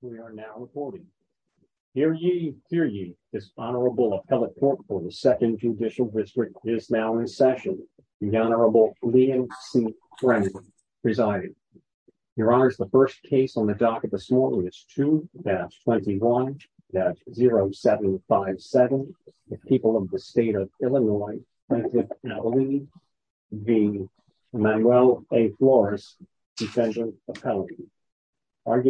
We are now reporting here ye here ye this honorable appellate court for the second judicial district is now in session the honorable liam c presiding your honor is the first case on the docket this morning it's two that's 21 that's 0757 the people of the state of illinois Mr stone when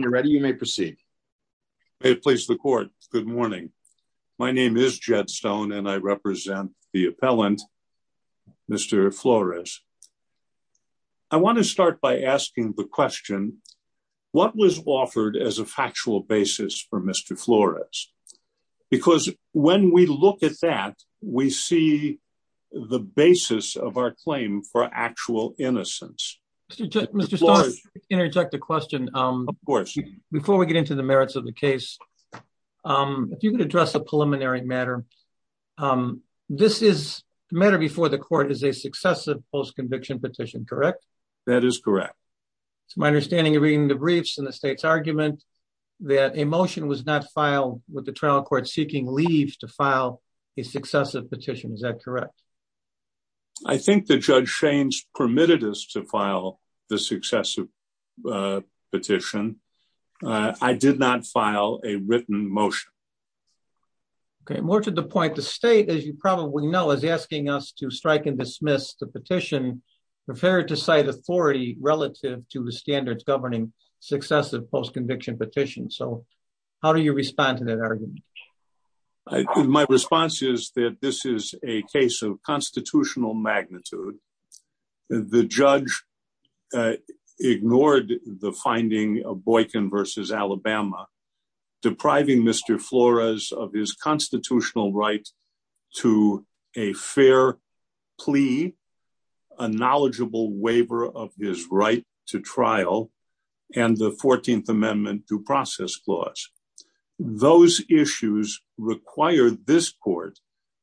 you're ready you may proceed may it please the court good morning my name is what was offered as a factual basis for Mr Flores because when we look at that we see the basis of our claim for actual innocence interject a question um of course before we get into the merits of the case um if you could address a preliminary matter um this is matter before the court is a successive post-conviction petition correct that is correct so my understanding of reading the briefs and the state's argument that a motion was not filed with the trial court seeking leaves to file a successive petition is that correct i think the judge shanes permitted us to file the successive petition i did not file a written motion okay more to the point the state as you probably know is asking us to strike and dismiss the petition preferred to cite authority relative to the standards governing successive post-conviction petition so how do you respond to that argument my response is that this is a case of constitutional magnitude the judge ignored the finding of boykin versus alabama depriving Mr Flores of his constitutional right to a fair plea a knowledgeable waiver of his right to trial and the 14th amendment due process clause those issues require this court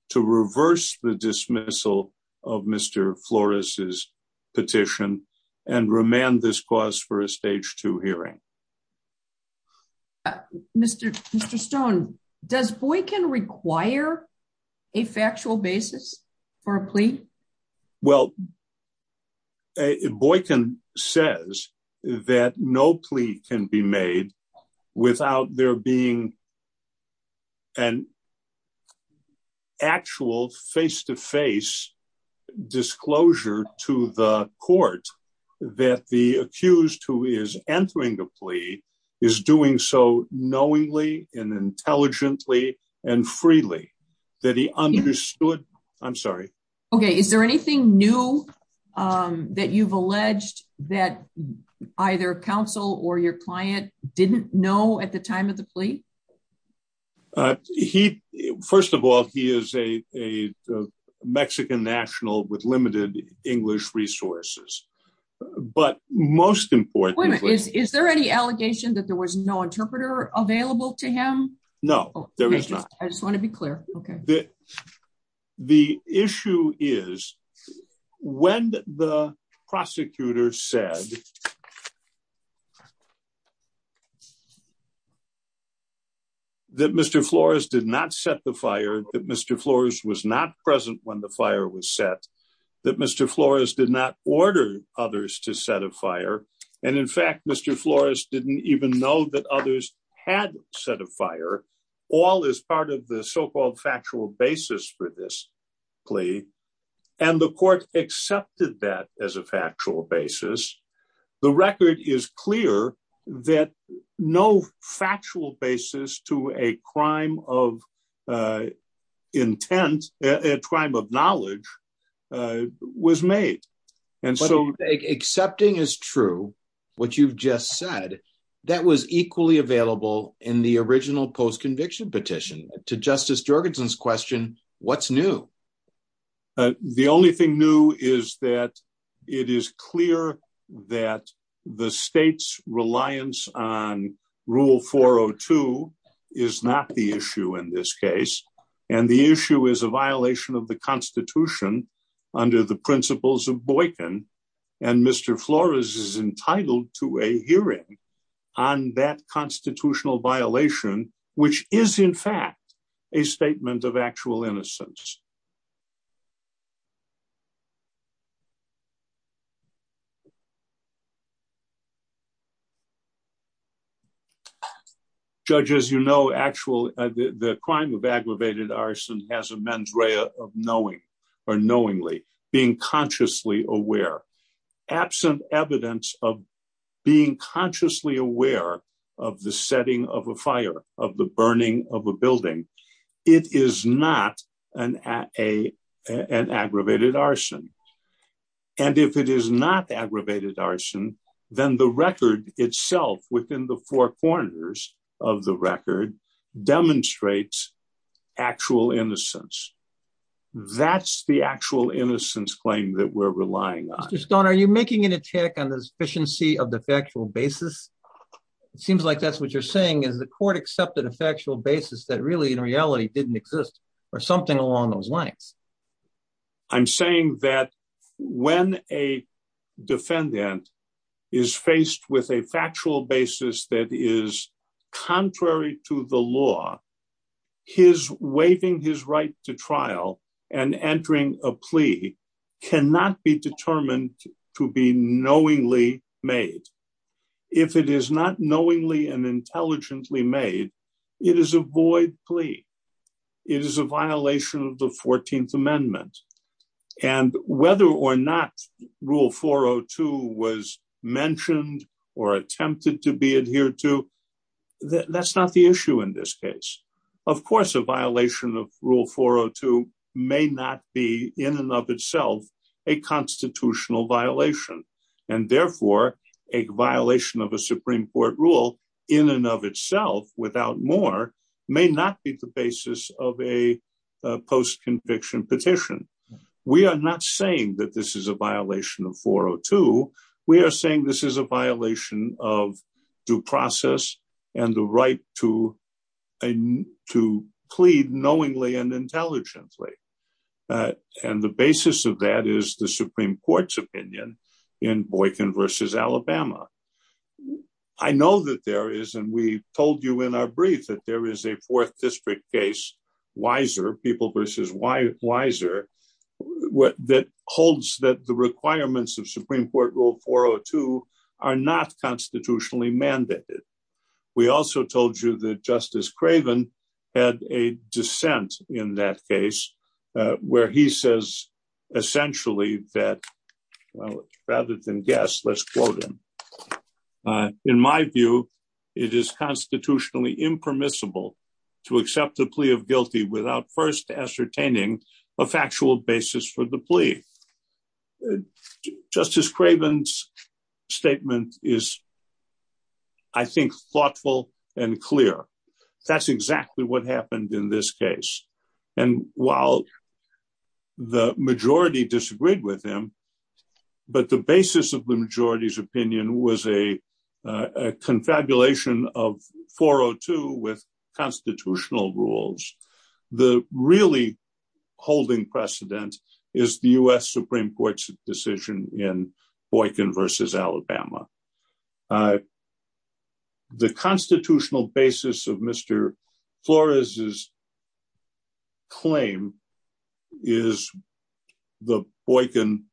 to reverse the dismissal of Mr Flores's petition and remand this cause for a stage two hearing Mr Stone does boykin require a factual basis for a plea well boykin says that no plea can be made without there being an actual face-to-face disclosure to the court that the accused who is entering the plea is doing so knowingly and intelligently and freely that he understood i'm sorry okay is there anything new um that you've alleged that either counsel or your client didn't know at the time of the plea uh he first of all he is a a mexican national with limited english resources but most importantly is there any allegation that there was no interpreter available to him no there is not i just want to be clear okay the the issue is when the prosecutor said that Mr Flores did not set the fire that Mr Flores was not present when the fire was set that Mr Flores did not order others to set a fire and in fact Mr Flores didn't even know that others had set a fire all as part of the so-called factual basis for this plea and the court accepted that as a factual basis the record is clear that no factual basis to a crime of uh intent a crime of knowledge uh was made and so accepting is true what you've just said that was equally available in the original post-conviction petition to justice jorgenson's question what's new the only thing new is that it is clear that the state's reliance on rule 402 is not the issue in this case and the issue is a violation of the constitution under the principles of boykin and Mr Flores is entitled to a hearing on that constitutional violation which is in fact a statement of actual innocence judge as you know actual the crime of aggravated arson has a mens rea of knowing or knowingly consciously aware absent evidence of being consciously aware of the setting of a fire of the burning of a building it is not an a an aggravated arson and if it is not aggravated arson then the record itself within the four corners of the record demonstrates actual innocence that's the actual innocence claim that we're relying on just don't are you making an attack on the sufficiency of the factual basis it seems like that's what you're saying is the court accepted a factual basis that really in reality didn't exist or something along those lines i'm saying that when a defendant is faced with a factual basis that is contrary to the law his waiving his right to trial and entering a plea cannot be determined to be knowingly made if it is not knowingly and intelligently made it is a void plea it is a violation of the 14th amendment and whether or not rule 402 was mentioned or attempted to be adhered to that's not the issue in this case of course a violation of rule 402 may not be in and of itself a constitutional violation and therefore a violation of a supreme court rule in and of itself without more may not be the basis of a post-conviction petition we are not saying that this is a violation of 402 we are saying this is a violation of due process and the right to to plead knowingly and intelligently and the basis of that is the supreme court's opinion in boykin versus alabama i know that there is and we told you in our brief that there is a fourth that the requirements of supreme court rule 402 are not constitutionally mandated we also told you that justice craven had a dissent in that case where he says essentially that well rather than guess let's quote him in my view it is constitutionally impermissible to accept the plea of guilty without first ascertaining a factual basis for the plea justice craven's statement is i think thoughtful and clear that's exactly what happened in this case and while the majority disagreed with him but the basis of the majority's opinion was a confabulation of 402 with constitutional rules the really holding precedent is the u.s supreme court's decision in boykin versus alabama the constitutional basis of mr flores's claim is the boykin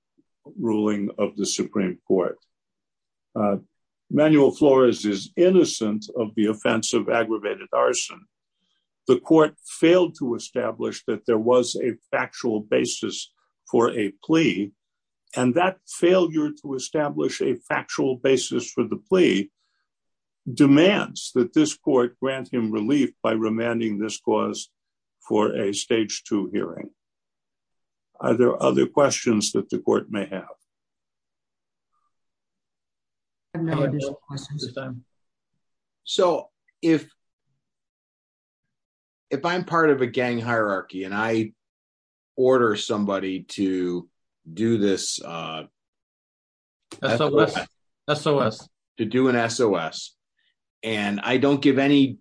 ruling of the supreme court manuel flores is innocent of the offense of and that failure to establish a factual basis for the plea demands that this court grant him relief by remanding this cause for a stage two hearing are there other questions that the court may have additional questions of time so if if i'm part of a gang hierarchy and i order somebody to do this uh sos to do an sos and i don't give any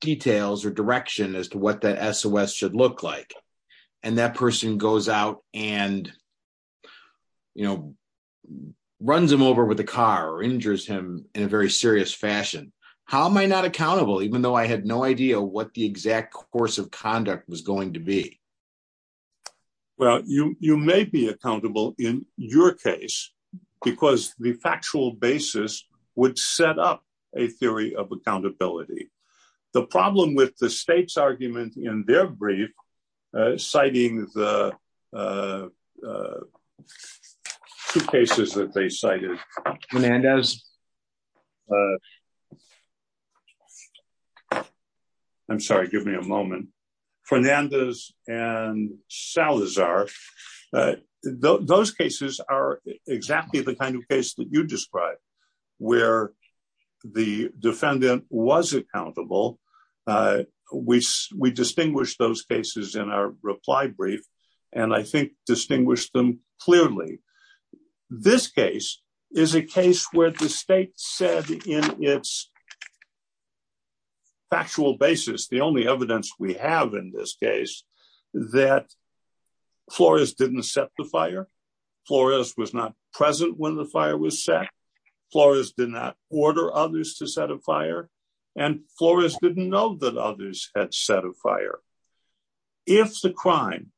details or direction as to what that sos should look like and that person goes out and you know runs him over with a car or injures him in a very serious fashion how am i not accountable even though i had no idea what the exact course of conduct was going to be well you you may be accountable in your case because the factual basis would set up a theory of accountability the problem with the state's argument in their brief citing the two cases that they cited fernandez i'm sorry give me a moment fernandez and salazar those cases are exactly the kind of case that you where the defendant was accountable uh we we distinguish those cases in our reply brief and i think distinguish them clearly this case is a case where the state said in its factual basis the only evidence we have in this case that flores didn't set the fire flores was not present when the fire was set flores did not order others to set a fire and flores didn't know that others had set a fire if the crime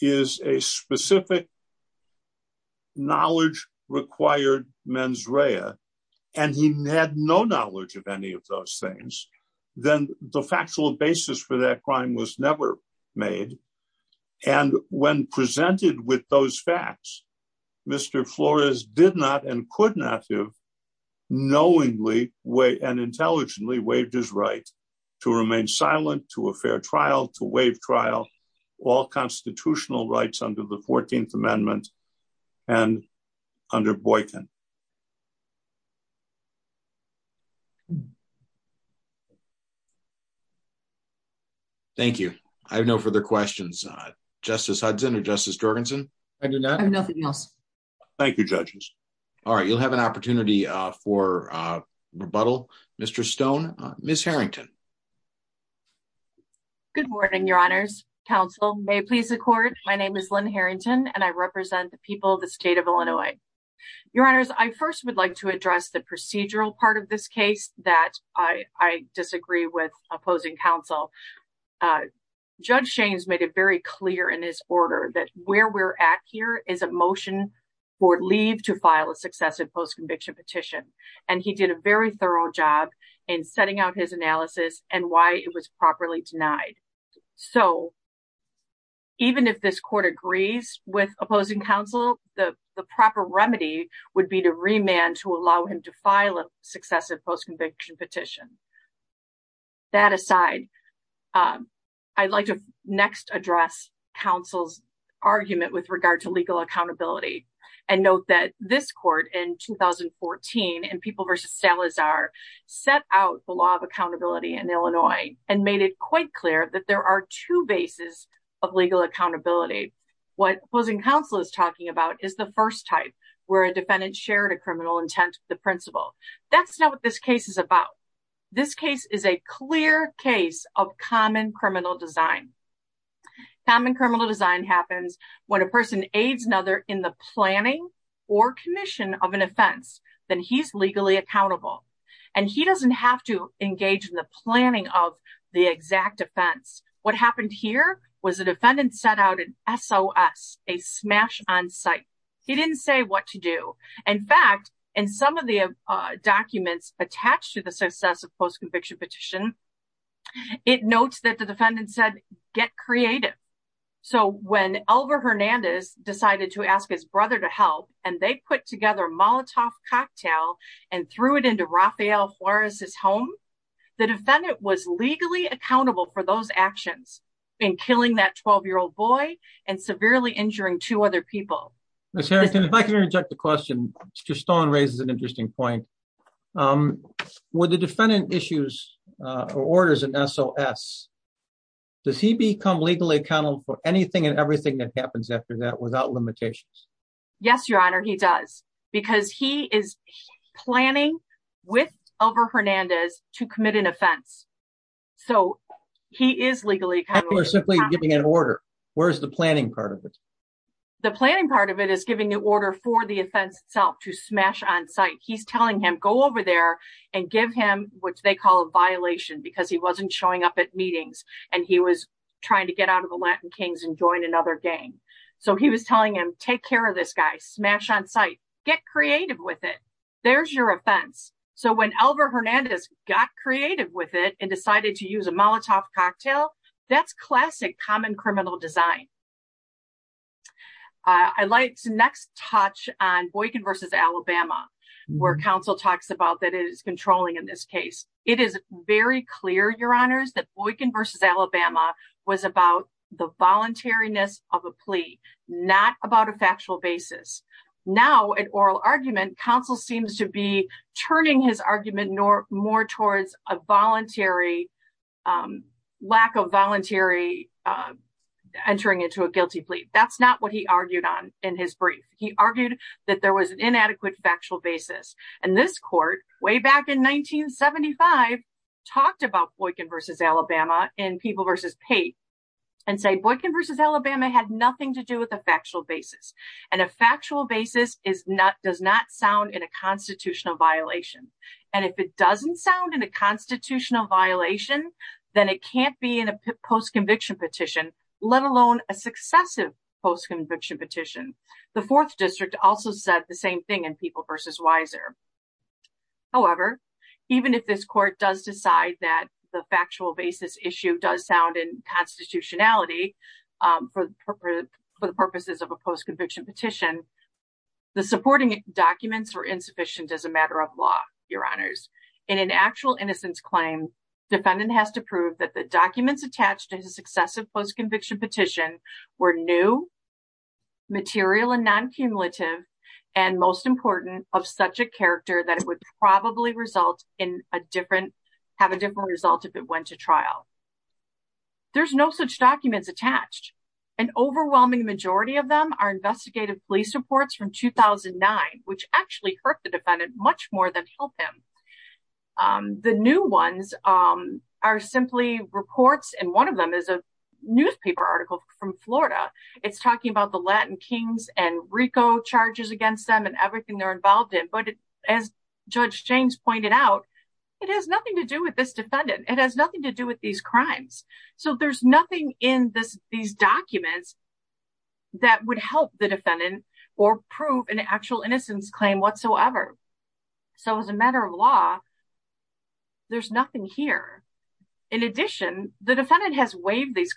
is a specific knowledge required mens rea and he had no knowledge of any of those things then the factual basis for that crime was never made and when presented with those facts mr flores did not and could not have knowingly way and intelligently waived his right to remain silent to a fair trial to waive trial all constitutional rights under the 14th amendment and under boykin thank you i have no further questions uh justice hudson or justice jorgensen i do not have nothing else thank you judges all right you'll have an opportunity uh for uh rebuttal mr stone miss herrington good morning your honors counsel may it please the court my name is lynn herrington and i represent the people of the state of illinois your honors i first would like to address the procedural part of this case that i i disagree with opposing counsel uh judge shames made it very clear in his order that where we're at here is a motion for leave to file a successive post-conviction petition and he did a very thorough job in setting out his analysis and even if this court agrees with opposing counsel the the proper remedy would be to remand to allow him to file a successive post-conviction petition that aside um i'd like to next address counsel's argument with regard to legal accountability and note that this court in 2014 and people versus salazar set out the law of accountability in illinois and made it quite clear that there are two bases of legal accountability what opposing counsel is talking about is the first type where a defendant shared a criminal intent the principle that's not what this case is about this case is a clear case of common criminal design common criminal design happens when a person aids another in the planning or commission of an offense then he's legally accountable and he doesn't have to engage in the planning of the exact offense what happened here was a defendant set out an sos a smash on site he didn't say what to do in fact in some of the uh documents attached to the successive post-conviction petition it notes that the defendant said get creative so when elver hernandez decided to ask his brother to help and they put together molotov cocktail and threw it into rafael juarez's home the defendant was legally accountable for those actions in killing that 12 year old boy and severely injuring two other people miss harrington if i can interject the question mr stone raises an interesting point um with the defendant issues uh orders an sos does he become legally accountable for anything and planning with elver hernandez to commit an offense so he is legally or simply giving an order where's the planning part of it the planning part of it is giving the order for the offense itself to smash on site he's telling him go over there and give him what they call a violation because he wasn't showing up at meetings and he was trying to get out of the latin kings and join another gang so he was telling him take care of this guy smash on site get creative with it there's your offense so when elver hernandez got creative with it and decided to use a molotov cocktail that's classic common criminal design i'd like to next touch on boykin versus alabama where council talks about that it is controlling in this case it is very clear your honors that boykin versus alabama was about the voluntariness of a plea not about a factual basis now an oral argument council seems to be turning his argument nor more towards a voluntary um lack of voluntary uh entering into a guilty plea that's not what he argued on in his brief he argued that there was an inadequate factual basis and this court way back in 1975 talked about boykin versus alabama in people versus pate and say boykin versus alabama had nothing to do with a factual basis and a factual basis is not does not sound in a constitutional violation and if it doesn't sound in a constitutional violation then it can't be in a post-conviction petition let alone a successive post-conviction petition the fourth district also said the same thing in people versus wiser however even if this court does decide that the factual basis issue does sound in constitutionality um for the purposes of a post-conviction petition the supporting documents were insufficient as a matter of law your honors in an actual innocence claim defendant has to prove that the documents attached to his successive post-conviction petition were new material and non-cumulative and most important of such a character that it would probably result in a different have a different result if it went to trial there's no such documents attached an overwhelming majority of them are investigative police reports from 2009 which actually hurt the defendant much more than help him um the new ones um are simply reports and one of them is a charges against them and everything they're involved in but as judge james pointed out it has nothing to do with this defendant it has nothing to do with these crimes so there's nothing in this these documents that would help the defendant or prove an actual innocence claim whatsoever so as a matter of law there's nothing here in addition the defendant has waived these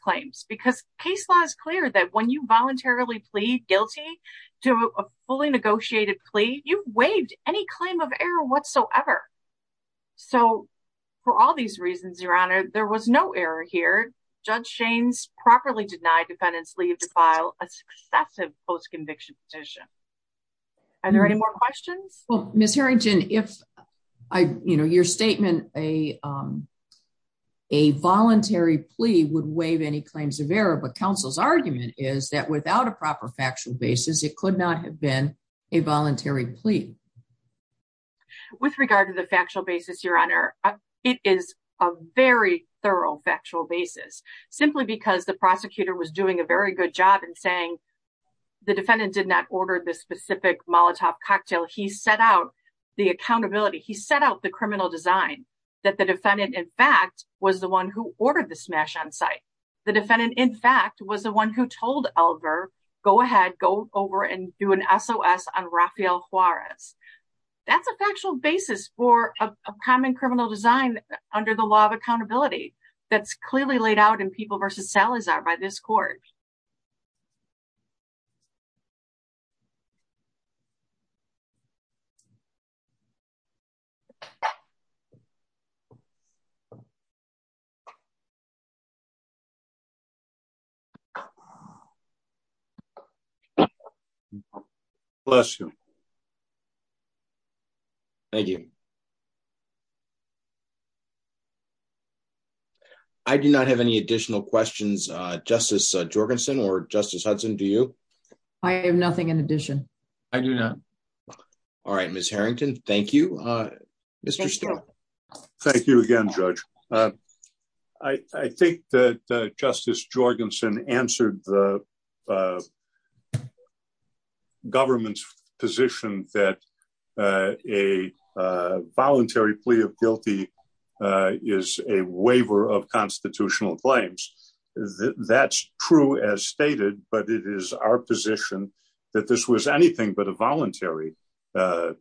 to a fully negotiated plea you waived any claim of error whatsoever so for all these reasons your honor there was no error here judge shanes properly denied defendants leave to file a successive post-conviction petition are there any more questions well miss herrington if i you know your statement a um a voluntary plea would waive any claims of error but council's argument is that without a proper factual basis it could not have been a voluntary plea with regard to the factual basis your honor it is a very thorough factual basis simply because the prosecutor was doing a very good job in saying the defendant did not order the specific molotov cocktail he set out the accountability he set out the criminal design that the defendant in fact was the one who ordered the smash on site the defendant in fact was the one who told elver go ahead go over and do an sos on rafael juarez that's a factual basis for a common criminal design under the law of accountability that's clearly laid out in people versus salazar by this court you bless you thank you i do not have any additional questions uh justice jorgenson or justice hudson do you i have nothing in addition i do not all right miss herrington thank you uh mr sterling thank you again judge uh i i think that uh justice jorgenson answered the government's position that uh a uh voluntary plea of guilty uh is a waiver of constitutional claims that's true as stated but it is our position that this was anything but a voluntary uh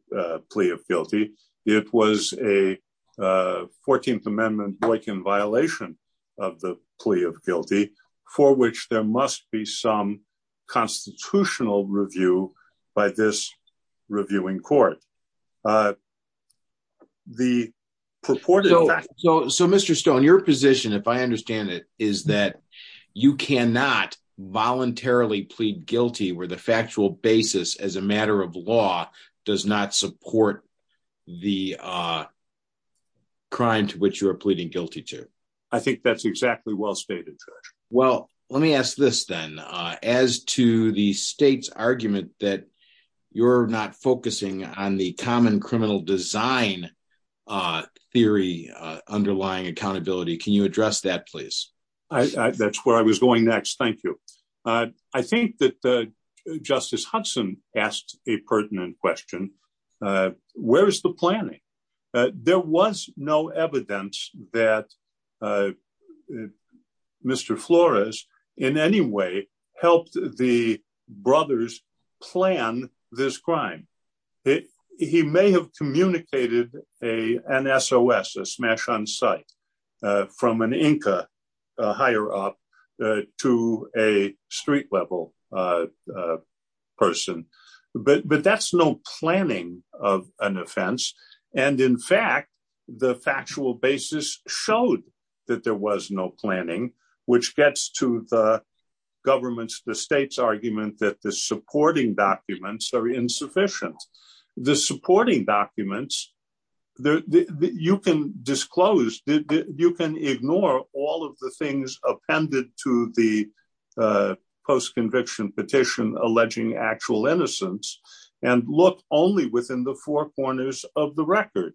plea of guilty it was a uh 14th amendment boykin violation of the plea of guilty for which there must be some constitutional review by this reviewing court uh the purported so so mr stone your position if i understand it is that you cannot voluntarily plead guilty where the factual basis as a matter of law does not support the uh crime to which you are pleading guilty to i think that's exactly well stated judge well let me ask this then uh as to the state's argument that you're not focusing on the common criminal design uh theory uh underlying accountability can you address that please i that's where i was going next thank you uh i think that uh justice hudson asked a pertinent question uh where is the planning there was no evidence that uh mr flores in any way helped the plan this crime he may have communicated a an sos a smash on site uh from an inca higher up to a street level uh person but but that's no planning of an offense and in fact the factual basis showed that there was no planning which gets to the government's the state's argument that the supporting documents are insufficient the supporting documents there you can disclose you can ignore all of the things appended to the uh post-conviction petition alleging actual innocence and look only within the four corners of the record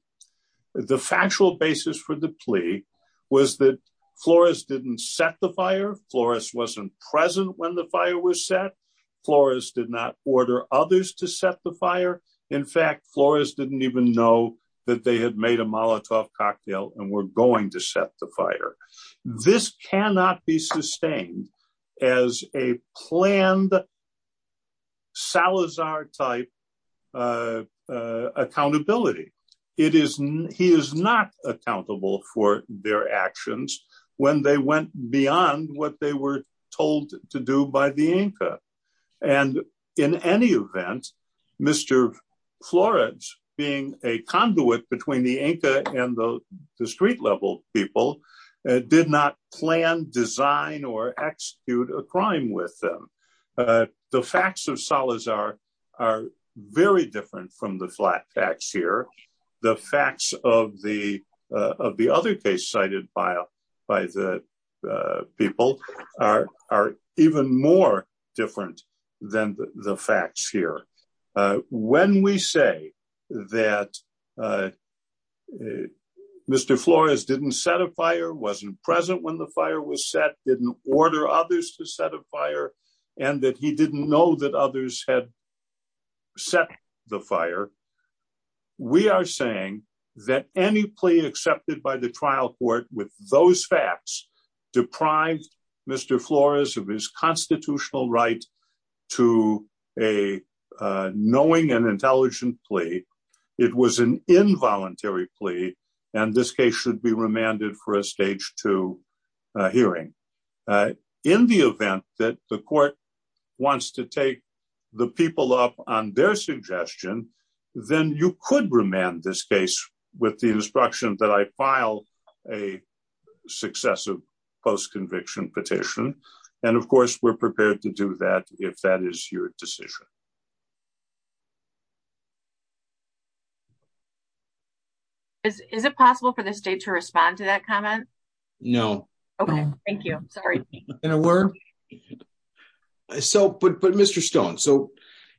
the factual basis for the plea was that florist didn't set the fire florist wasn't present when the fire was set florist did not order others to set the fire in fact florist didn't even know that they had made a molotov cocktail and were going to set the fire this cannot be sustained as a planned salazar type uh uh accountability it is he is not accountable for their actions when they went beyond what they were told to do by the inca and in any event mr florence being a conduit between the inca and the street level people did not plan design or execute a crime with them uh the facts of salazar are very different from the flat facts here the facts of the uh of the other case cited by by the uh people are are even more different than the facts here uh when we say that uh mr flores didn't set a fire wasn't present when the fire was set didn't order others to set a fire and that he didn't know that others had set the fire we are saying that any plea accepted by the trial court with those facts deprived mr flores of his constitutional right to a uh knowing and intelligent plea it was an involuntary plea and this case should be remanded for a stage two hearing in the event that the court wants to take the people up on their suggestion then you could remand this case with the instruction that i file a successive post-conviction petition and of course we're prepared to do that if that is your decision is is it possible for the state to respond to that comment no okay thank you sorry in a word so but but mr stone so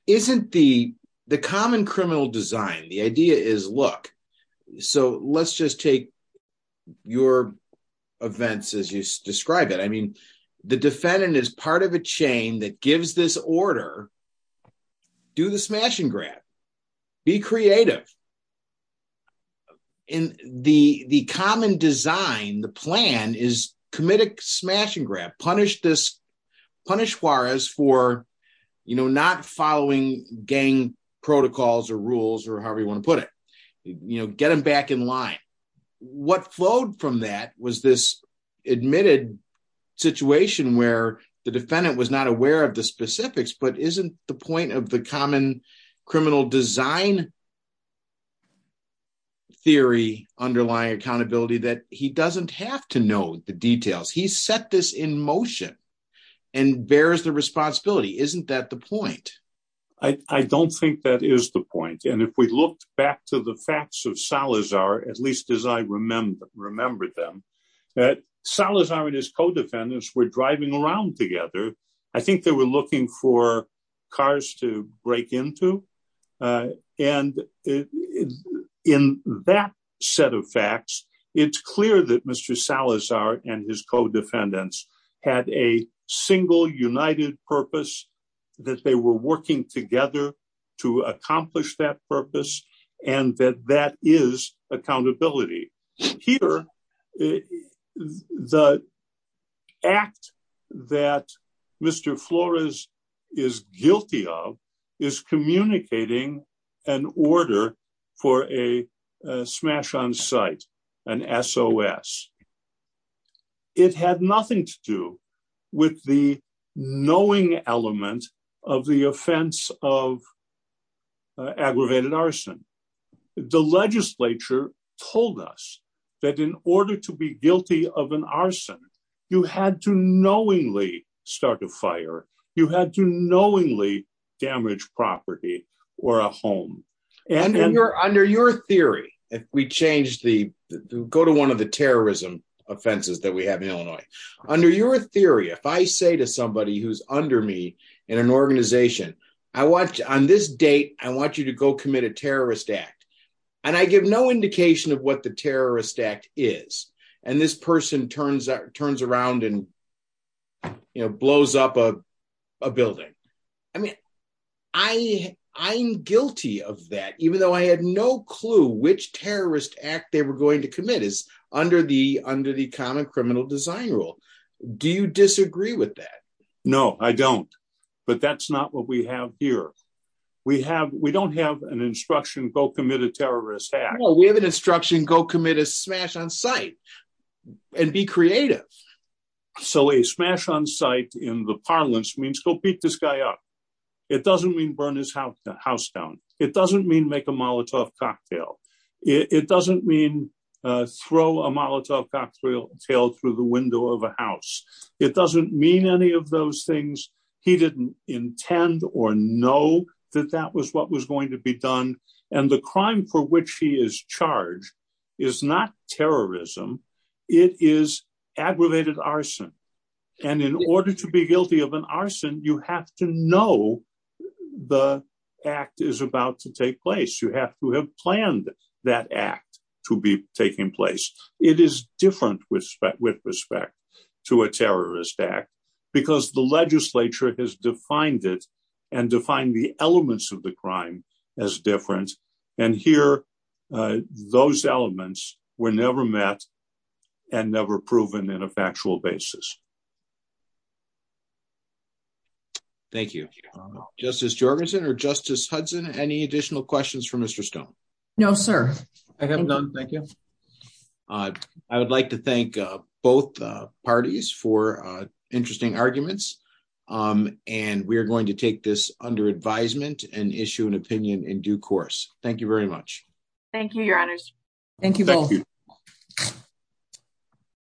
isn't the the common criminal design the idea is look so let's just take your events as you describe it i mean the defendant is part of a chain that gives this order do the smash and grab be creative in the the common design the plan is commit a smash and grab punish this punish juarez for you know not following gang protocols or rules or however you want to put it you know get them back in line what flowed from that was this admitted situation where the defendant was not aware of the specifics but isn't the point of the common criminal design theory underlying accountability that he doesn't have to know the details he set this in motion and bears the responsibility isn't that the point i i don't think that is the point and if we looked back to the facts of salazar at least as i remember remembered them that salazar and his co-defendants were driving around together i think they were looking for cars to break into and in that set of facts it's clear that mr salazar and his co-defendants had a single united purpose that they were working together to accomplish that purpose and that that is accountability here the act that mr flores is guilty of is communicating an order for a smash on site an sos it had nothing to do with the knowing element of the offense of legislature told us that in order to be guilty of an arson you had to knowingly start a fire you had to knowingly damage property or a home and you're under your theory if we change the go to one of the terrorism offenses that we have in illinois under your theory if i say to somebody who's under me in an organization i watch on this date i want you to go commit a terrorist act and i give no indication of what the terrorist act is and this person turns that turns around and you know blows up a building i mean i i'm guilty of that even though i had no clue which terrorist act they were going to commit is under the under the common criminal design rule do you disagree with that no i don't but that's not what we have here we have we don't have an instruction go commit a terrorist act we have an instruction go commit a smash on site and be creative so a smash on site in the parlance means go beat this guy up it doesn't mean burn his house down it doesn't mean make a molotov cocktail it doesn't mean uh throw a molotov cocktail tailed through the window of a house it doesn't mean any of those things he didn't intend or know that that was what was going to be done and the crime for which he is charged is not terrorism it is aggravated arson and in order to be guilty of an arson you have to know the act is about to take place you have to have planned that act to be taking place it is different with respect with elements of the crime as different and here those elements were never met and never proven in a factual basis thank you justice jorgenson or justice hudson any additional questions for mr stone no sir i have none thank you uh i would like to thank uh both uh parties for uh going to take this under advisement and issue an opinion in due course thank you very much thank you your honors thank you